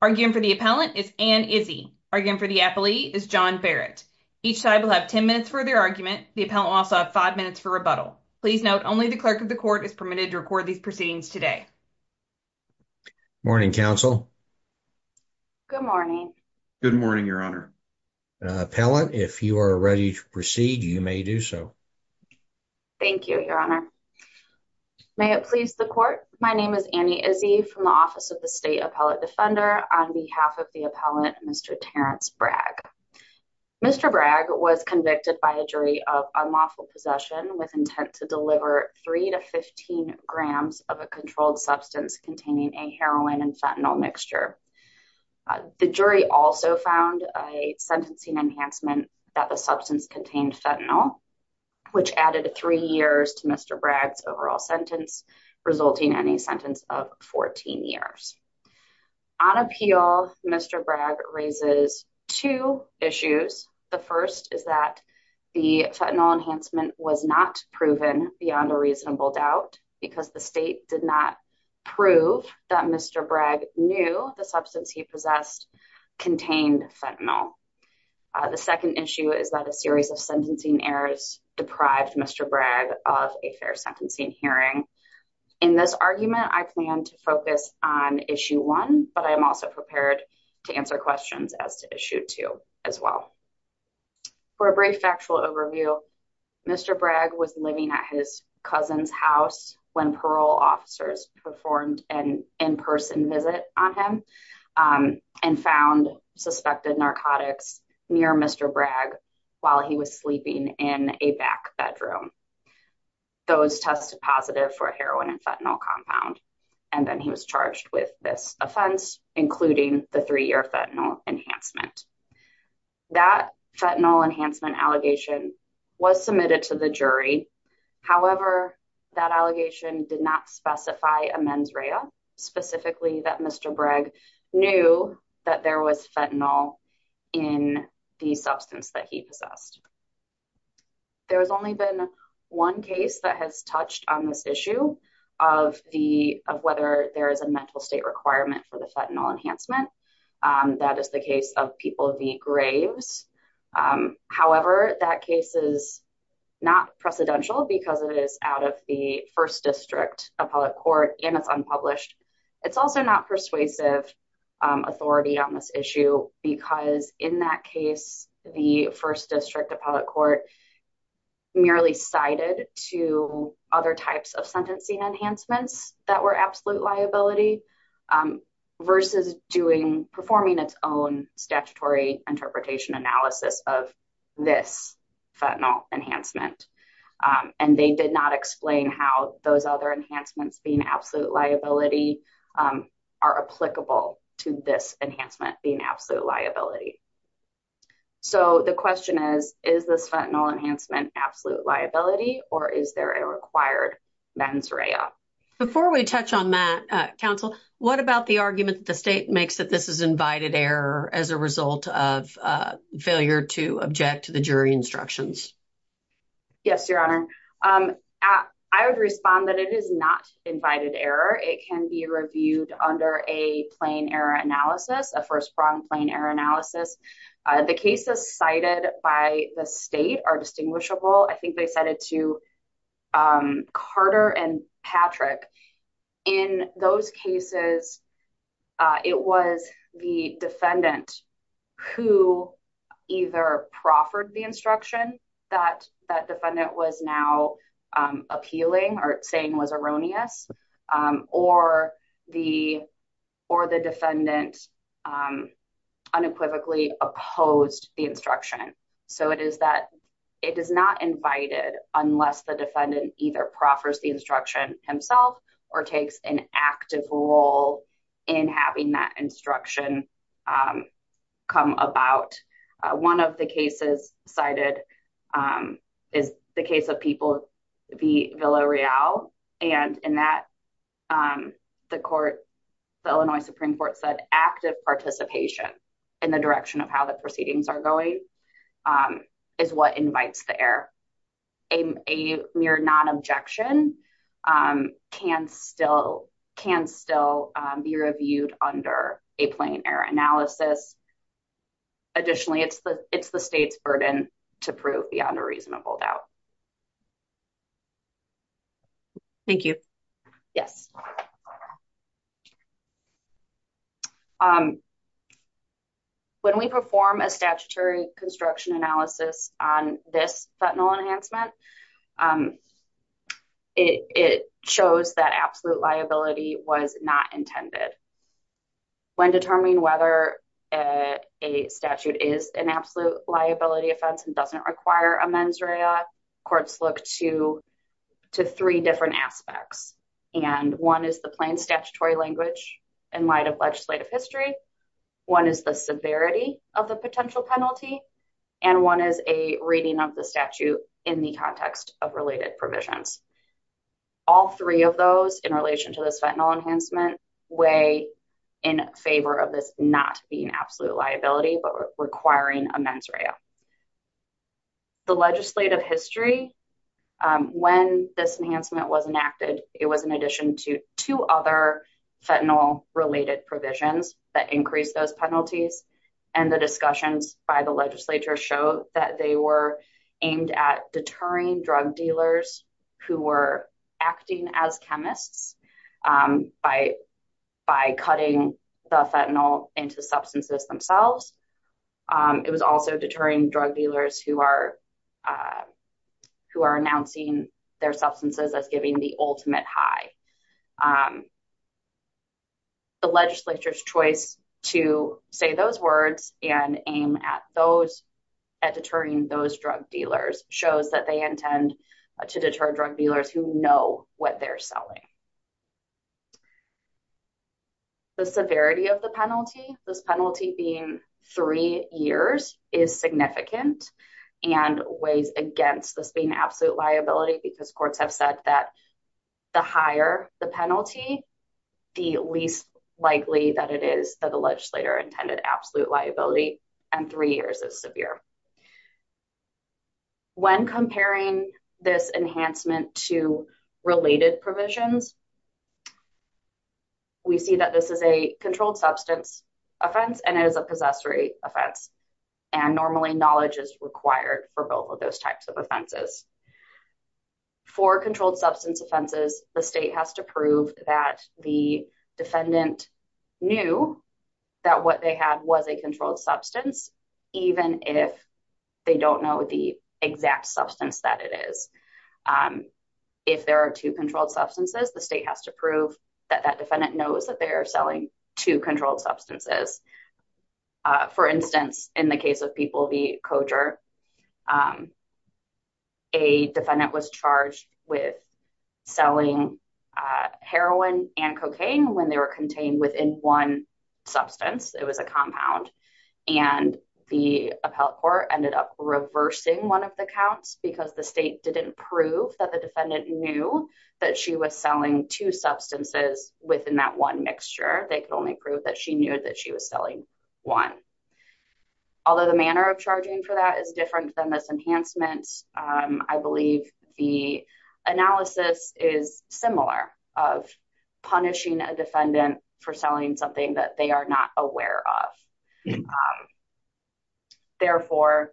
arguing for the appellant is an Izzy arguing for the appellee is john Barrett. Each side will have 10 minutes for their argument. The appellant also have five minutes for rebuttal. Please note only the clerk of the court is permitted to record these proceedings today. Morning council. Good morning. Good morning, Your Honor. Appellant. If you are ready to proceed, you may do so. Thank you, Your Honor. May it please the court. My name is Annie Izzy from the office of the appellate defender on behalf of the appellant, Mr. Terrence Bragg. Mr. Bragg was convicted by a jury of unlawful possession with intent to deliver three to 15 grams of a controlled substance containing a heroin and fentanyl mixture. The jury also found a sentencing enhancement that the substance contained fentanyl, which added three years to Mr. Bragg's overall sentence, resulting in a sentence of 14 years on appeal. Mr Bragg raises two issues. The first is that the fentanyl enhancement was not proven beyond a reasonable doubt because the state did not prove that Mr Bragg knew the substance he possessed contained fentanyl. The second issue is that a series of sentencing errors deprived Mr Bragg of a fair sentencing hearing. In this argument, I plan to focus on issue one, but I am also prepared to answer questions as to issue two as well. For a brief factual overview, Mr Bragg was living at his cousin's house when parole officers performed an in person visit on him, um, and found suspected narcotics near Mr Bragg while he was sleeping in a back bedroom. Those tested positive for heroin and fentanyl compound, and then he was charged with this offense, including the three year fentanyl enhancement. That fentanyl enhancement allegation was submitted to the jury. However, that allegation did not specify a mens rea, specifically that Mr Bragg knew that there was fentanyl in the substance that he possessed. There has only been one case that has touched on this issue of the of whether there is a mental state requirement for the fentanyl enhancement. Um, that is the case of people of the graves. Um, however, that case is not precedential because it is out of the first district appellate court and it's unpublished. It's also not persuasive authority on this issue because in that case, the first district appellate court merely cited to other types of sentencing enhancements that were absolute liability, um, versus doing performing its own statutory interpretation analysis of this fentanyl enhancement. Um, and they did not explain how those other enhancements being absolute liability, um, are applicable to this enhancement being absolute liability. So the question is, is this fentanyl enhancement absolute liability or is there a required men's rea before we touch on that council? What about the argument that the state makes that this is invited error as a result of failure to object to the jury instructions? Yes, Your Honor. Um, I would respond that it is not invited error. It can be reviewed under a plain error analysis. A first pronged plain error analysis. The cases cited by the state are distinguishable. I think they said it to, um, Carter and Patrick. In those cases, it was the defendant who either proffered the instruction that that defendant was now appealing or saying was erroneous. Um, or the or the defendant, um, unequivocally opposed the instruction. So it is that it is not invited unless the defendant either proffers the instruction himself or takes an active role in having that instruction, um, come about. One of the cases cited, um, is the case of people, the Villa Real. And in that, um, the Illinois Supreme Court said active participation in the direction of how the proceedings are going, um, is what invites the air. A mere non objection, um, can still can still be reviewed under a plain error analysis. Additionally, it's the it's the state's burden to prove beyond a reasonable doubt. Thank you. Yes. Um, when we perform a statutory construction analysis on this fentanyl enhancement, um, it shows that absolute liability was not intended. When determining whether a statute is an absolute liability offense and doesn't require a mens rea, courts look to to three different aspects. And one is the plain statutory language in light of legislative history. One is the severity of the potential penalty, and one is a reading of the statute in the context of related provisions. All three of those in relation to this fentanyl enhancement way in favor of this not being absolute liability but requiring a mens rea. The legislative history. Um, when this enhancement was enacted, it was in addition to two other fentanyl related provisions that increased those penalties. And the discussions by the Legislature show that they were aimed at deterring drug dealers who were acting as chemists, um, by by cutting the fentanyl into substances themselves. Um, it was also deterring drug dealers who are, uh, who are announcing their substances as giving the ultimate high. Um, the Legislature's choice to say those words and aim at those at deterring those drug dealers shows that they intend to deter drug dealers who know what they're selling. The severity of the penalty, this penalty being three years, is significant and weighs against this being absolute liability because courts have said that the higher the penalty, the least likely that it is that the Legislature intended absolute liability and three years is severe. When comparing this enhancement to related provisions, we see that this is a controlled substance offense and it is a possessory offense, and normally knowledge is required for both of those types of offenses. For controlled substance offenses, the state has to prove that the defendant knew that what they had was a controlled substance, even if they don't know the exact substance that it is. Um, if there are two controlled substances, the state has to prove that that defendant knows that they are selling two controlled substances. Uh, for instance, in the case of people, the coacher, um, um, a defendant was charged with selling heroin and cocaine when they were contained within one substance. It was a compound, and the appellate court ended up reversing one of the counts because the state didn't prove that the defendant knew that she was selling two substances within that one mixture. They could only prove that she knew that she was selling one. Although the manner of for that is different than this enhancement. Um, I believe the analysis is similar of punishing a defendant for selling something that they are not aware of. Um, therefore,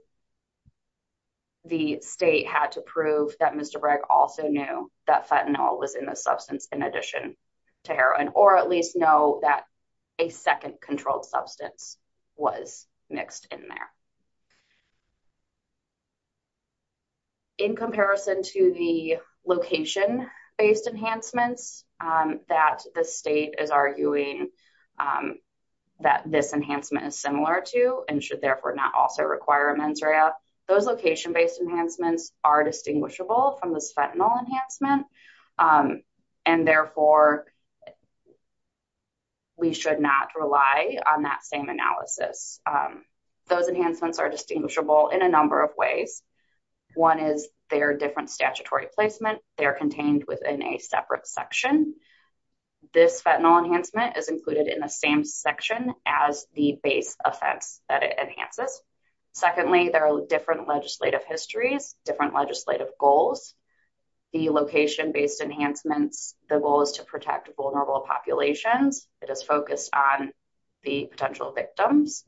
the state had to prove that Mr Bragg also knew that fentanyl was in the substance in addition to heroin, or at least know that a second controlled substance was mixed in there in comparison to the location based enhancements, um, that the state is arguing, um, that this enhancement is similar to and should therefore not also require a men's area. Those location based enhancements are distinguishable from this fentanyl enhancement. Um, and therefore we should not rely on that same analysis. Um, those enhancements are distinguishable in a number of ways. One is their different statutory placement. They're contained within a separate section. This fentanyl enhancement is included in the same section as the base offense that it enhances. Secondly, there are different legislative histories, different vulnerable populations. It is focused on the potential victims.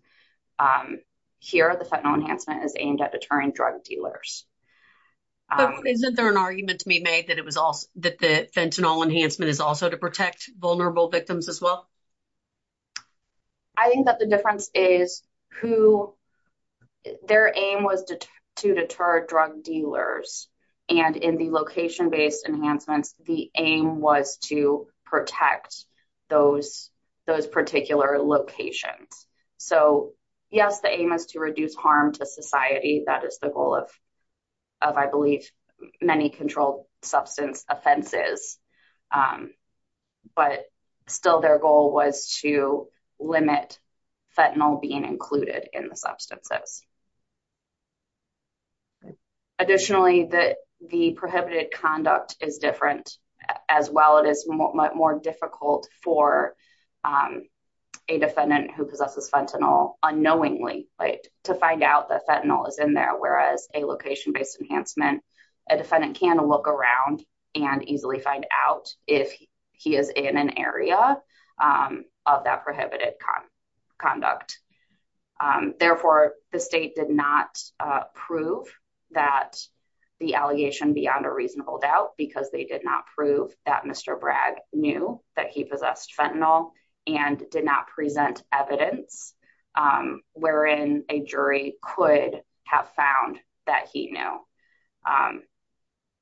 Um, here the fentanyl enhancement is aimed at deterring drug dealers. Um, isn't there an argument to be made that it was also that the fentanyl enhancement is also to protect vulnerable victims as well? I think that the difference is who their aim was to deter drug dealers. And in the location based enhancements, the aim was to protect those, those particular locations. So yes, the aim is to reduce harm to society. That is the goal of, of I believe many controlled substance offenses. Um, but still their goal was to limit fentanyl being included in the substances. Additionally, that the prohibited conduct is different as well. It is much more difficult for, um, a defendant who possesses fentanyl unknowingly, like to find out that fentanyl is in there. Whereas a location based enhancement, a defendant can look around and easily find out if he is in an area, um, of that prohibited con conduct. Um, therefore, um, the state did not prove that the allegation beyond a reasonable doubt because they did not prove that Mr. Bragg knew that he possessed fentanyl and did not present evidence, um, wherein a jury could have found that he knew, um,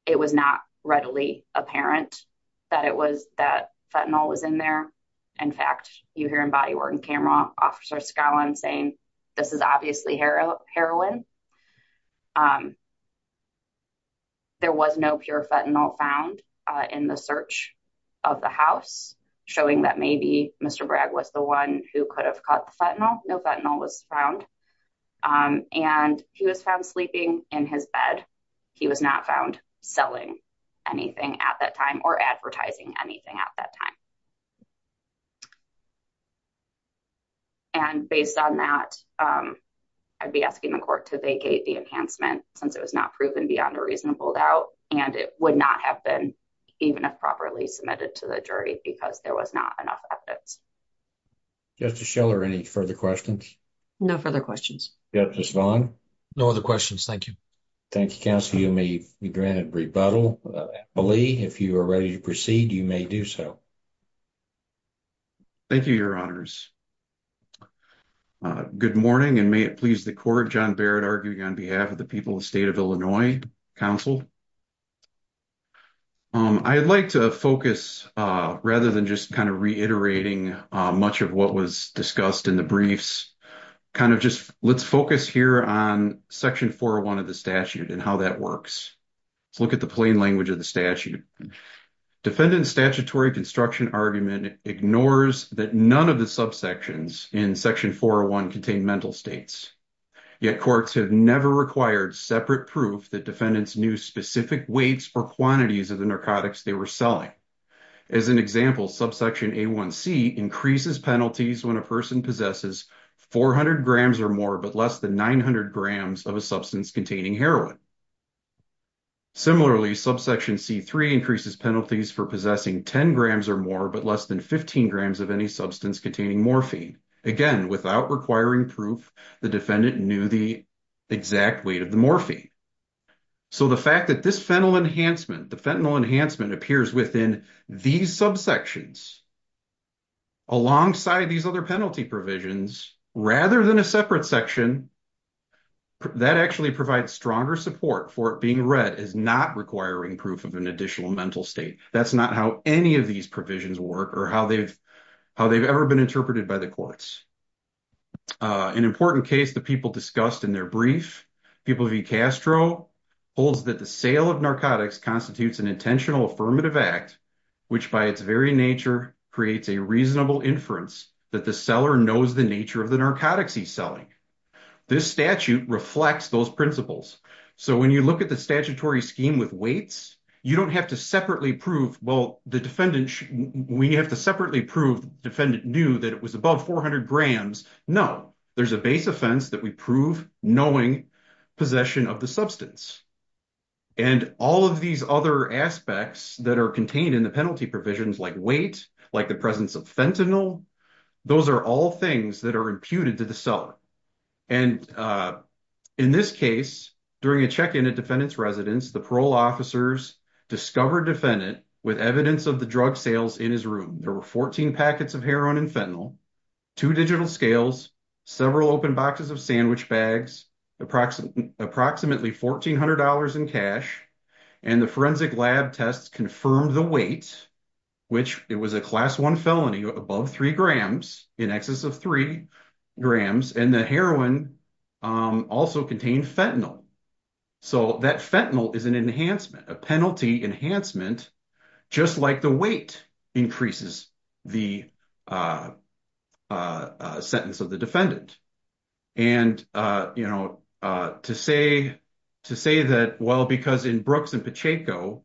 it was not readily apparent that it was that fentanyl was in there. In fact, you hear in body work and camera officer skyline saying this is obviously hero heroin. Um, there was no pure fentanyl found in the search of the house showing that maybe Mr Bragg was the one who could have caught the fentanyl. No fentanyl was found. Um, and he was found sleeping in his bed. He was not found selling anything at that time or advertising anything at that time. Mhm. And based on that, um, I'd be asking the court to vacate the enhancement since it was not proven beyond a reasonable doubt, and it would not have been even if properly submitted to the jury because there was not enough evidence. Justice Schiller. Any further questions? No further questions. Justice Long. No other questions. Thank you. Thank you. Council. You may be granted rebuttal. I believe if you are ready to proceed, you may do so. Thank you, Your Honors. Uh, good morning and may it please the court. John Barrett arguing on behalf of the people of state of Illinois Council. Um, I'd like to focus rather than just kind of reiterating much of what was discussed in the briefs. Kind of just let's focus here on section for one of the statute and how that works. Let's look at the plain language of the ignores that none of the subsections in Section 401 contained mental states. Yet courts have never required separate proof that defendants knew specific weights or quantities of the narcotics they were selling. As an example, subsection A1C increases penalties when a person possesses 400 grams or more, but less than 900 grams of a substance containing heroin. Similarly, subsection C3 increases penalties for possessing 10 grams or more, but less than 15 grams of any substance containing morphine. Again, without requiring proof the defendant knew the exact weight of the morphine. So the fact that this fennel enhancement, the fentanyl enhancement appears within these subsections. Alongside these other penalty provisions, rather than a being read as not requiring proof of an additional mental state. That's not how any of these provisions work or how they've how they've ever been interpreted by the courts. An important case that people discussed in their brief, people V Castro holds that the sale of narcotics constitutes an intentional affirmative act, which by its very nature creates a reasonable inference that the seller knows the nature of the narcotics he's selling. This statute reflects those principles. So when you look at the statutory scheme with weights, you don't have to separately prove, well, the defendant, we have to separately prove the defendant knew that it was above 400 grams. No, there's a base offense that we prove knowing possession of the substance. And all of these other aspects that are contained in the penalty provisions like weight, like the presence of fentanyl, those are all things that are imputed to the seller. And in this case, during a check-in at defendant's residence, the parole officers discovered defendant with evidence of the drug sales in his room. There were 14 packets of heroin and fentanyl, two digital scales, several open boxes of sandwich bags, approximately $1,400 in cash. And the forensic lab tests confirmed the weight, which it class one felony above three grams, in excess of three grams, and the heroin also contained fentanyl. So that fentanyl is an enhancement, a penalty enhancement, just like the weight increases the sentence of the defendant. And to say that, well, because in Brooks and Pacheco,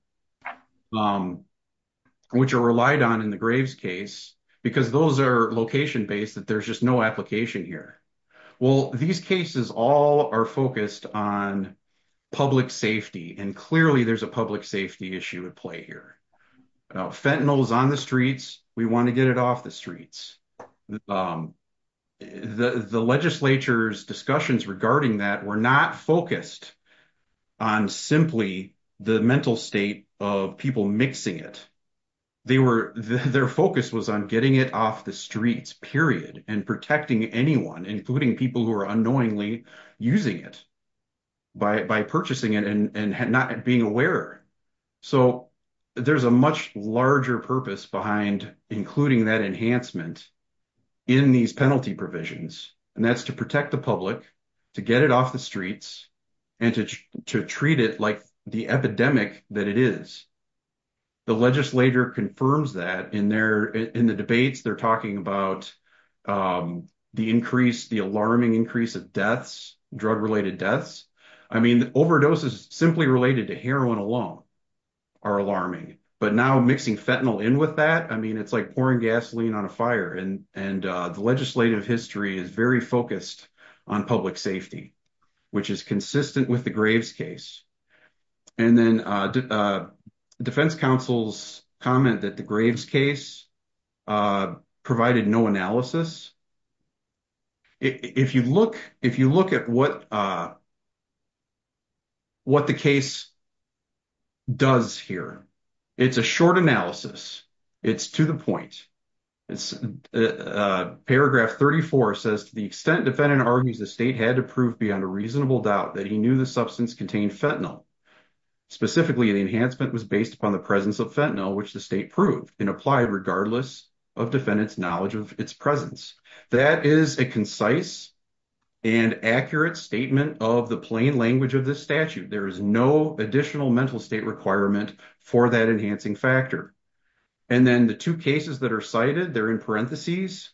which are relied on the Graves case, because those are location-based, that there's just no application here. Well, these cases all are focused on public safety, and clearly there's a public safety issue at play here. Fentanyl is on the streets, we want to get it off the streets. The legislature's discussions regarding that were not focused on simply the mental state of people mixing it. Their focus was on getting it off the streets, period, and protecting anyone, including people who are unknowingly using it, by purchasing it and not being aware. So there's a much larger purpose behind including that enhancement in these penalty provisions, and that's to protect the public, to the streets, and to treat it like the epidemic that it is. The legislature confirms that in the debates, they're talking about the alarming increase of deaths, drug-related deaths. I mean, overdoses simply related to heroin alone are alarming, but now mixing fentanyl in with that, I mean, it's like pouring gasoline on a fire, and the legislative history is very focused on public safety, which is consistent with the Graves case. And then defense counsels comment that the Graves case provided no analysis. If you look at what the case does here, it's a short analysis, it's to the point. Paragraph 34 says, to the extent defendant argues the state had to prove beyond a reasonable doubt that he knew the substance contained fentanyl, specifically an enhancement was based upon the presence of fentanyl, which the state proved and applied regardless of defendant's knowledge of its presence. That is a concise and accurate statement of the plain language of this statute. There is no additional mental state requirement for that enhancing factor. And then the two cases that are cited, they're in parentheses.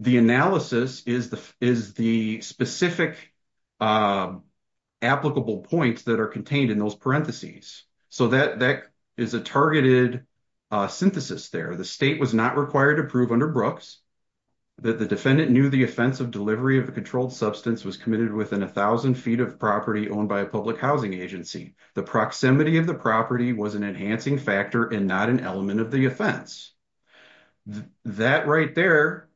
The analysis is the specific applicable points that are contained in those parentheses. So that is a targeted synthesis there. The state was not required to prove under Brooks that the defendant knew the offense of delivery of a controlled substance was committed within 1,000 feet of property owned by a public housing agency. The proximity of the property was an enhancing factor and not an element of the offense. That right there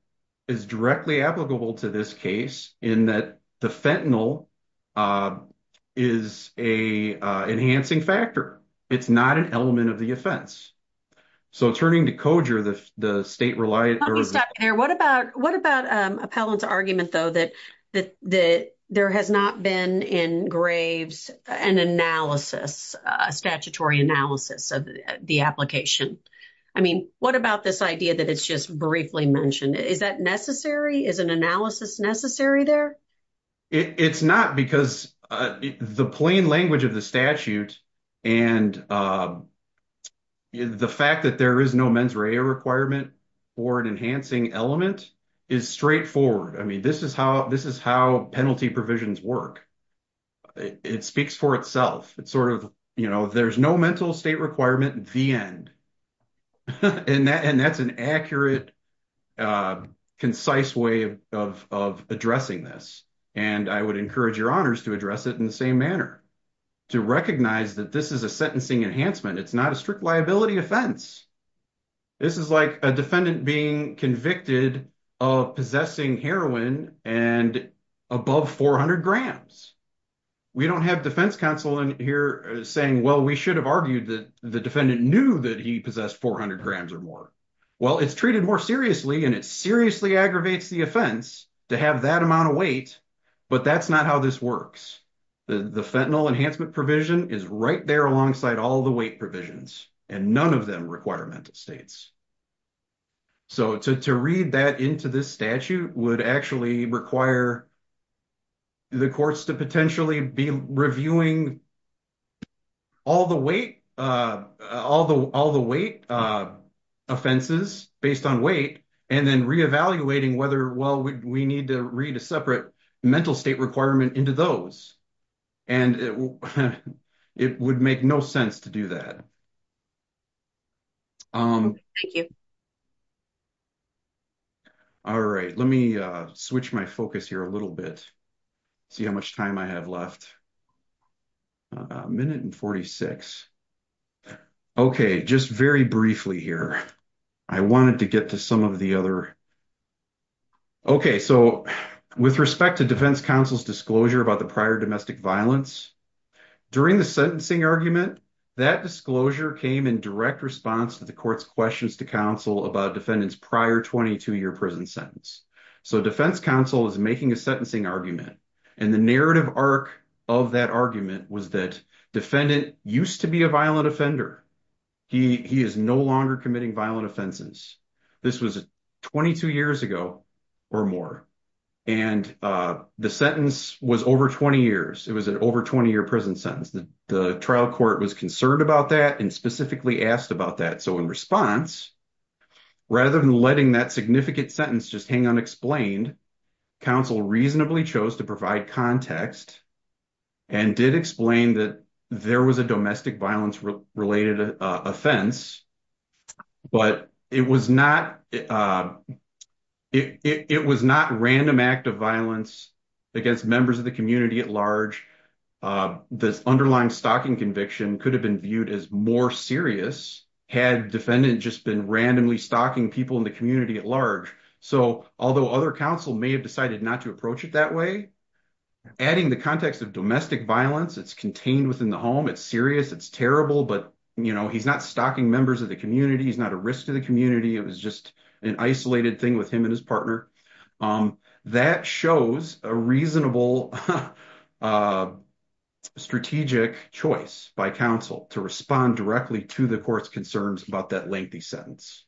is directly applicable to this case in that the fentanyl is an enhancing factor. It's not an element of the offense. So turning to Koger, the state relied... Let me stop you there. What about Appellant's argument, though, that there has not been in graves an analysis, a statutory analysis of the application? I mean, what about this idea that it's just briefly mentioned? Is that necessary? Is an analysis necessary there? It's not because the plain language of the statute and the fact that there is no mens rea requirement for an enhancing element is straightforward. I mean, this is how penalty provisions work. It speaks for itself. It's sort of, you know, there's no mental state requirement, the end. And that's an accurate, concise way of addressing this. And I would encourage your honors to address it in the same manner, to recognize that this is a sentencing enhancement. It's not a strict liability offense. This is like a defendant being convicted of possessing heroin and above 400 grams. We don't have defense counsel in here saying, well, we should have argued that the defendant knew that he possessed 400 grams or more. Well, it's treated more seriously and it seriously aggravates the offense to have that amount of weight. But that's not how this works. The fentanyl enhancement provision is right there alongside all weight provisions and none of them require mental states. So to read that into this statute would actually require the courts to potentially be reviewing all the weight offenses based on weight and then reevaluating whether, well, we need to read a separate mental state requirement into those. And it would make no sense to do that. All right. Let me switch my focus here a little bit, see how much time I have left. A minute and 46. Okay. Just very briefly here. I wanted to get to some of the other. Okay. So with respect to defense counsel's disclosure about the prior domestic violence during the sentencing argument, that disclosure came in direct response to the court's questions to counsel about defendants prior 22-year prison sentence. So defense counsel is making a sentencing argument and the narrative arc of that argument was that defendant used to be a violent offender. He is no longer committing violent offenses. This was 22 years ago or more. And the sentence was over 20 years. It was an over 20-year prison sentence. The trial court was concerned about that and specifically asked about that. So in response, rather than letting that significant sentence just hang unexplained, counsel reasonably chose to provide context and did explain that there was a domestic violence related offense. But it was not random act of violence against members of the community at large. This underlying stalking conviction could have been viewed as more serious had defendant just been randomly stalking people in the community at large. So although other counsel may have decided not to approach it that way, adding the context of domestic violence, it's contained within the home, it's serious, it's terrible, but he's not stalking members of the community. He's not a risk to the community. It was just an isolated thing with him and his partner. That shows a reasonable strategic choice by counsel to respond directly to the court's concerns about that lengthy sentence.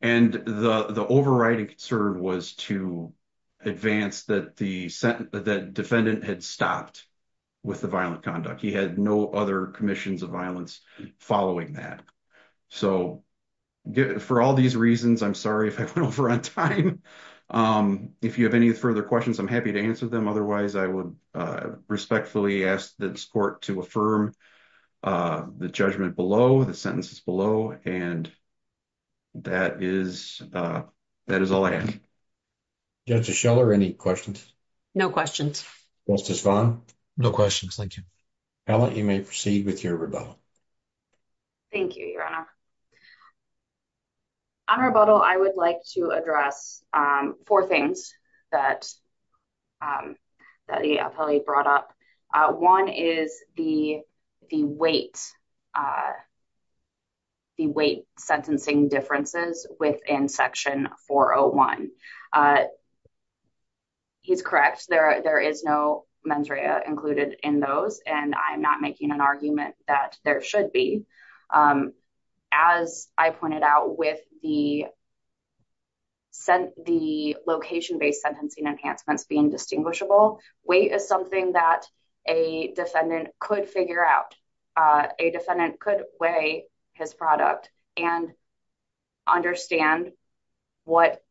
And the overriding concern was to advance that the defendant had stopped with the violent conduct. He had no other commissions of violence following that. So for all these reasons, I'm sorry if I went over on time. If you have any further questions, I'm happy to answer them. Otherwise, I would respectfully ask this court to affirm the judgment below, the sentences below, and that is all I have. Justice Scheller, any questions? No questions. Justice Vaughn? No questions, thank you. Helen, you may proceed with your rebuttal. Thank you, Your Honor. On rebuttal, I would like to address four things that the appellee brought up. One is the weight sentencing differences within Section 401. He's correct. There is no mens rea included in those, and I'm not making an argument that there should be. As I pointed out with the location-based sentencing enhancements being distinguishable, weight is something that a defendant could figure out. A defendant could weigh his product and understand what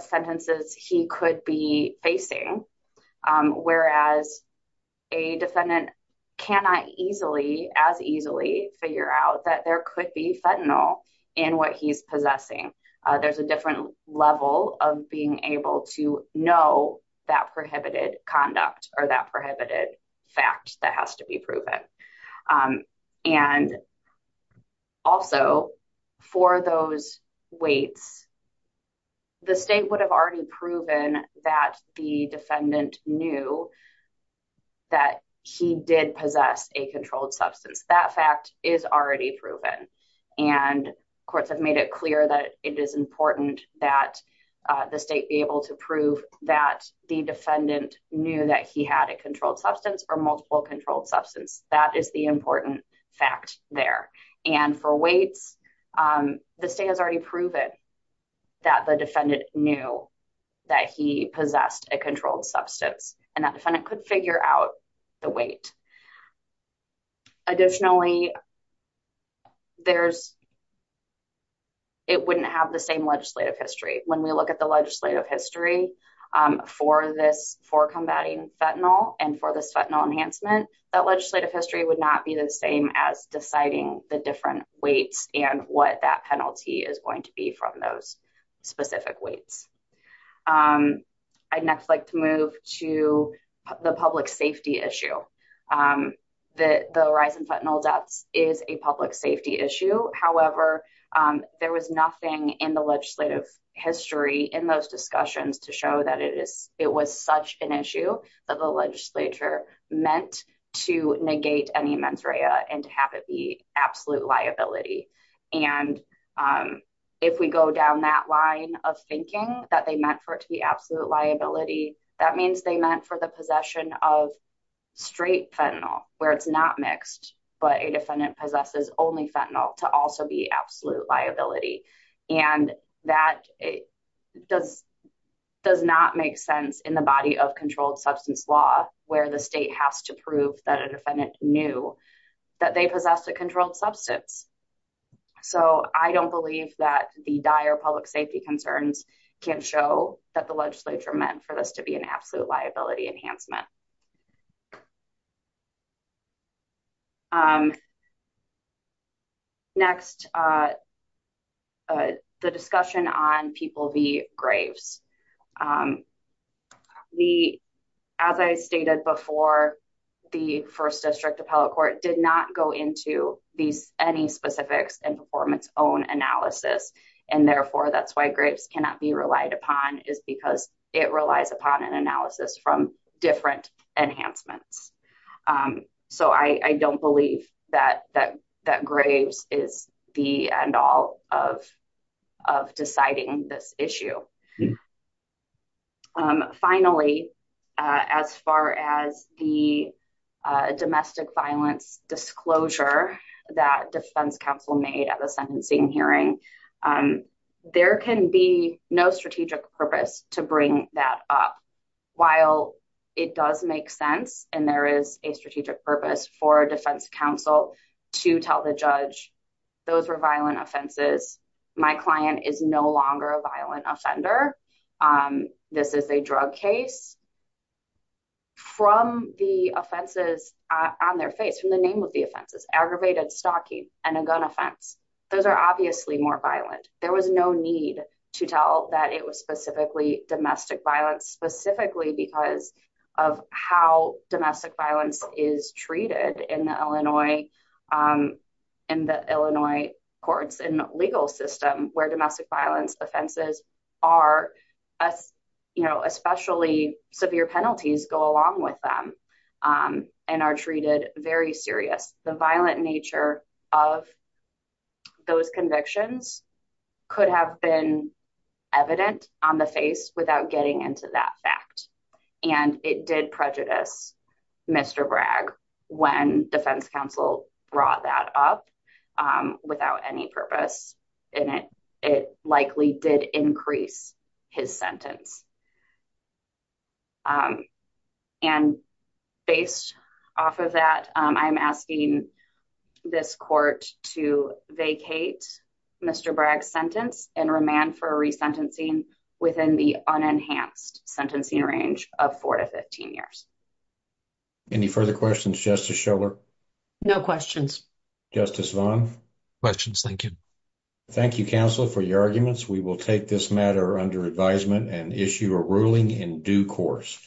sentences he could be facing, whereas a defendant cannot as easily figure out that there could be fentanyl in what he's possessing. There's a different level of being able to know that prohibited conduct or that prohibited fact that has to be proven. Also, for those weights, the state would have already proven that the defendant knew that he did possess a controlled substance. That fact is already proven, and courts have it clear that it is important that the state be able to prove that the defendant knew that he had a controlled substance or multiple controlled substances. That is the important fact there. For weights, the state has already proven that the defendant knew that he possessed a controlled substance, and that defendant could figure out the weight. Additionally, it wouldn't have the same legislative history. When we look at the legislative history for combating fentanyl and for this fentanyl enhancement, that legislative history would not be the same as deciding the different weights and what that penalty is going to be from those specific weights. I'd next like to move to the public safety issue. The rise in fentanyl is a public safety issue. However, there was nothing in the legislative history in those discussions to show that it was such an issue that the legislature meant to negate any mens rea and to have it be absolute liability. If we go down that line of thinking that they meant for it to be absolute liability, that means they meant for the possession of straight fentanyl, where it's not mixed, but a defendant possesses only fentanyl, to also be absolute liability. That does not make sense in the body of controlled substance law, where the state has to prove that a defendant knew that they possessed a controlled substance. I don't believe that the dire public safety concerns can show that the legislature meant for this to be an absolute liability enhancement. Next, the discussion on People v. Graves. As I stated before, the First District Appellate Court did not go into any specifics and performance-owned analysis. Therefore, that's why grapes cannot be relied upon, is because it relies upon an analysis from different enhancements. I don't believe that Graves is the end-all of deciding this issue. Finally, as far as the domestic violence disclosure that Defense Council made at the trial, it does make sense. There is a strategic purpose for Defense Council to tell the judge, those were violent offenses. My client is no longer a violent offender. This is a drug case. From the offenses on their face, from the name of the offenses, aggravated stalking and a gun offense, those are obviously more violent. There was no need to tell that it was specifically domestic violence because of how domestic violence is treated in the Illinois courts and legal system, where domestic violence offenses, especially severe penalties, go along with them and are treated very seriously. The violent nature of those convictions could have been evident on the face without getting into that fact. It did prejudice Mr. Bragg when Defense Council brought that up without any purpose. It likely did increase his sentence. Based off of that, I'm asking this court to vacate Mr. Bragg's sentence and remand for resentencing within the unenhanced sentencing range of 4 to 15 years. Any further questions, Justice Schiller? No questions. Justice Vaughn? Questions, thank you. Thank you, counsel, for your arguments. We will take this matter under advisement and issue a ruling in due course.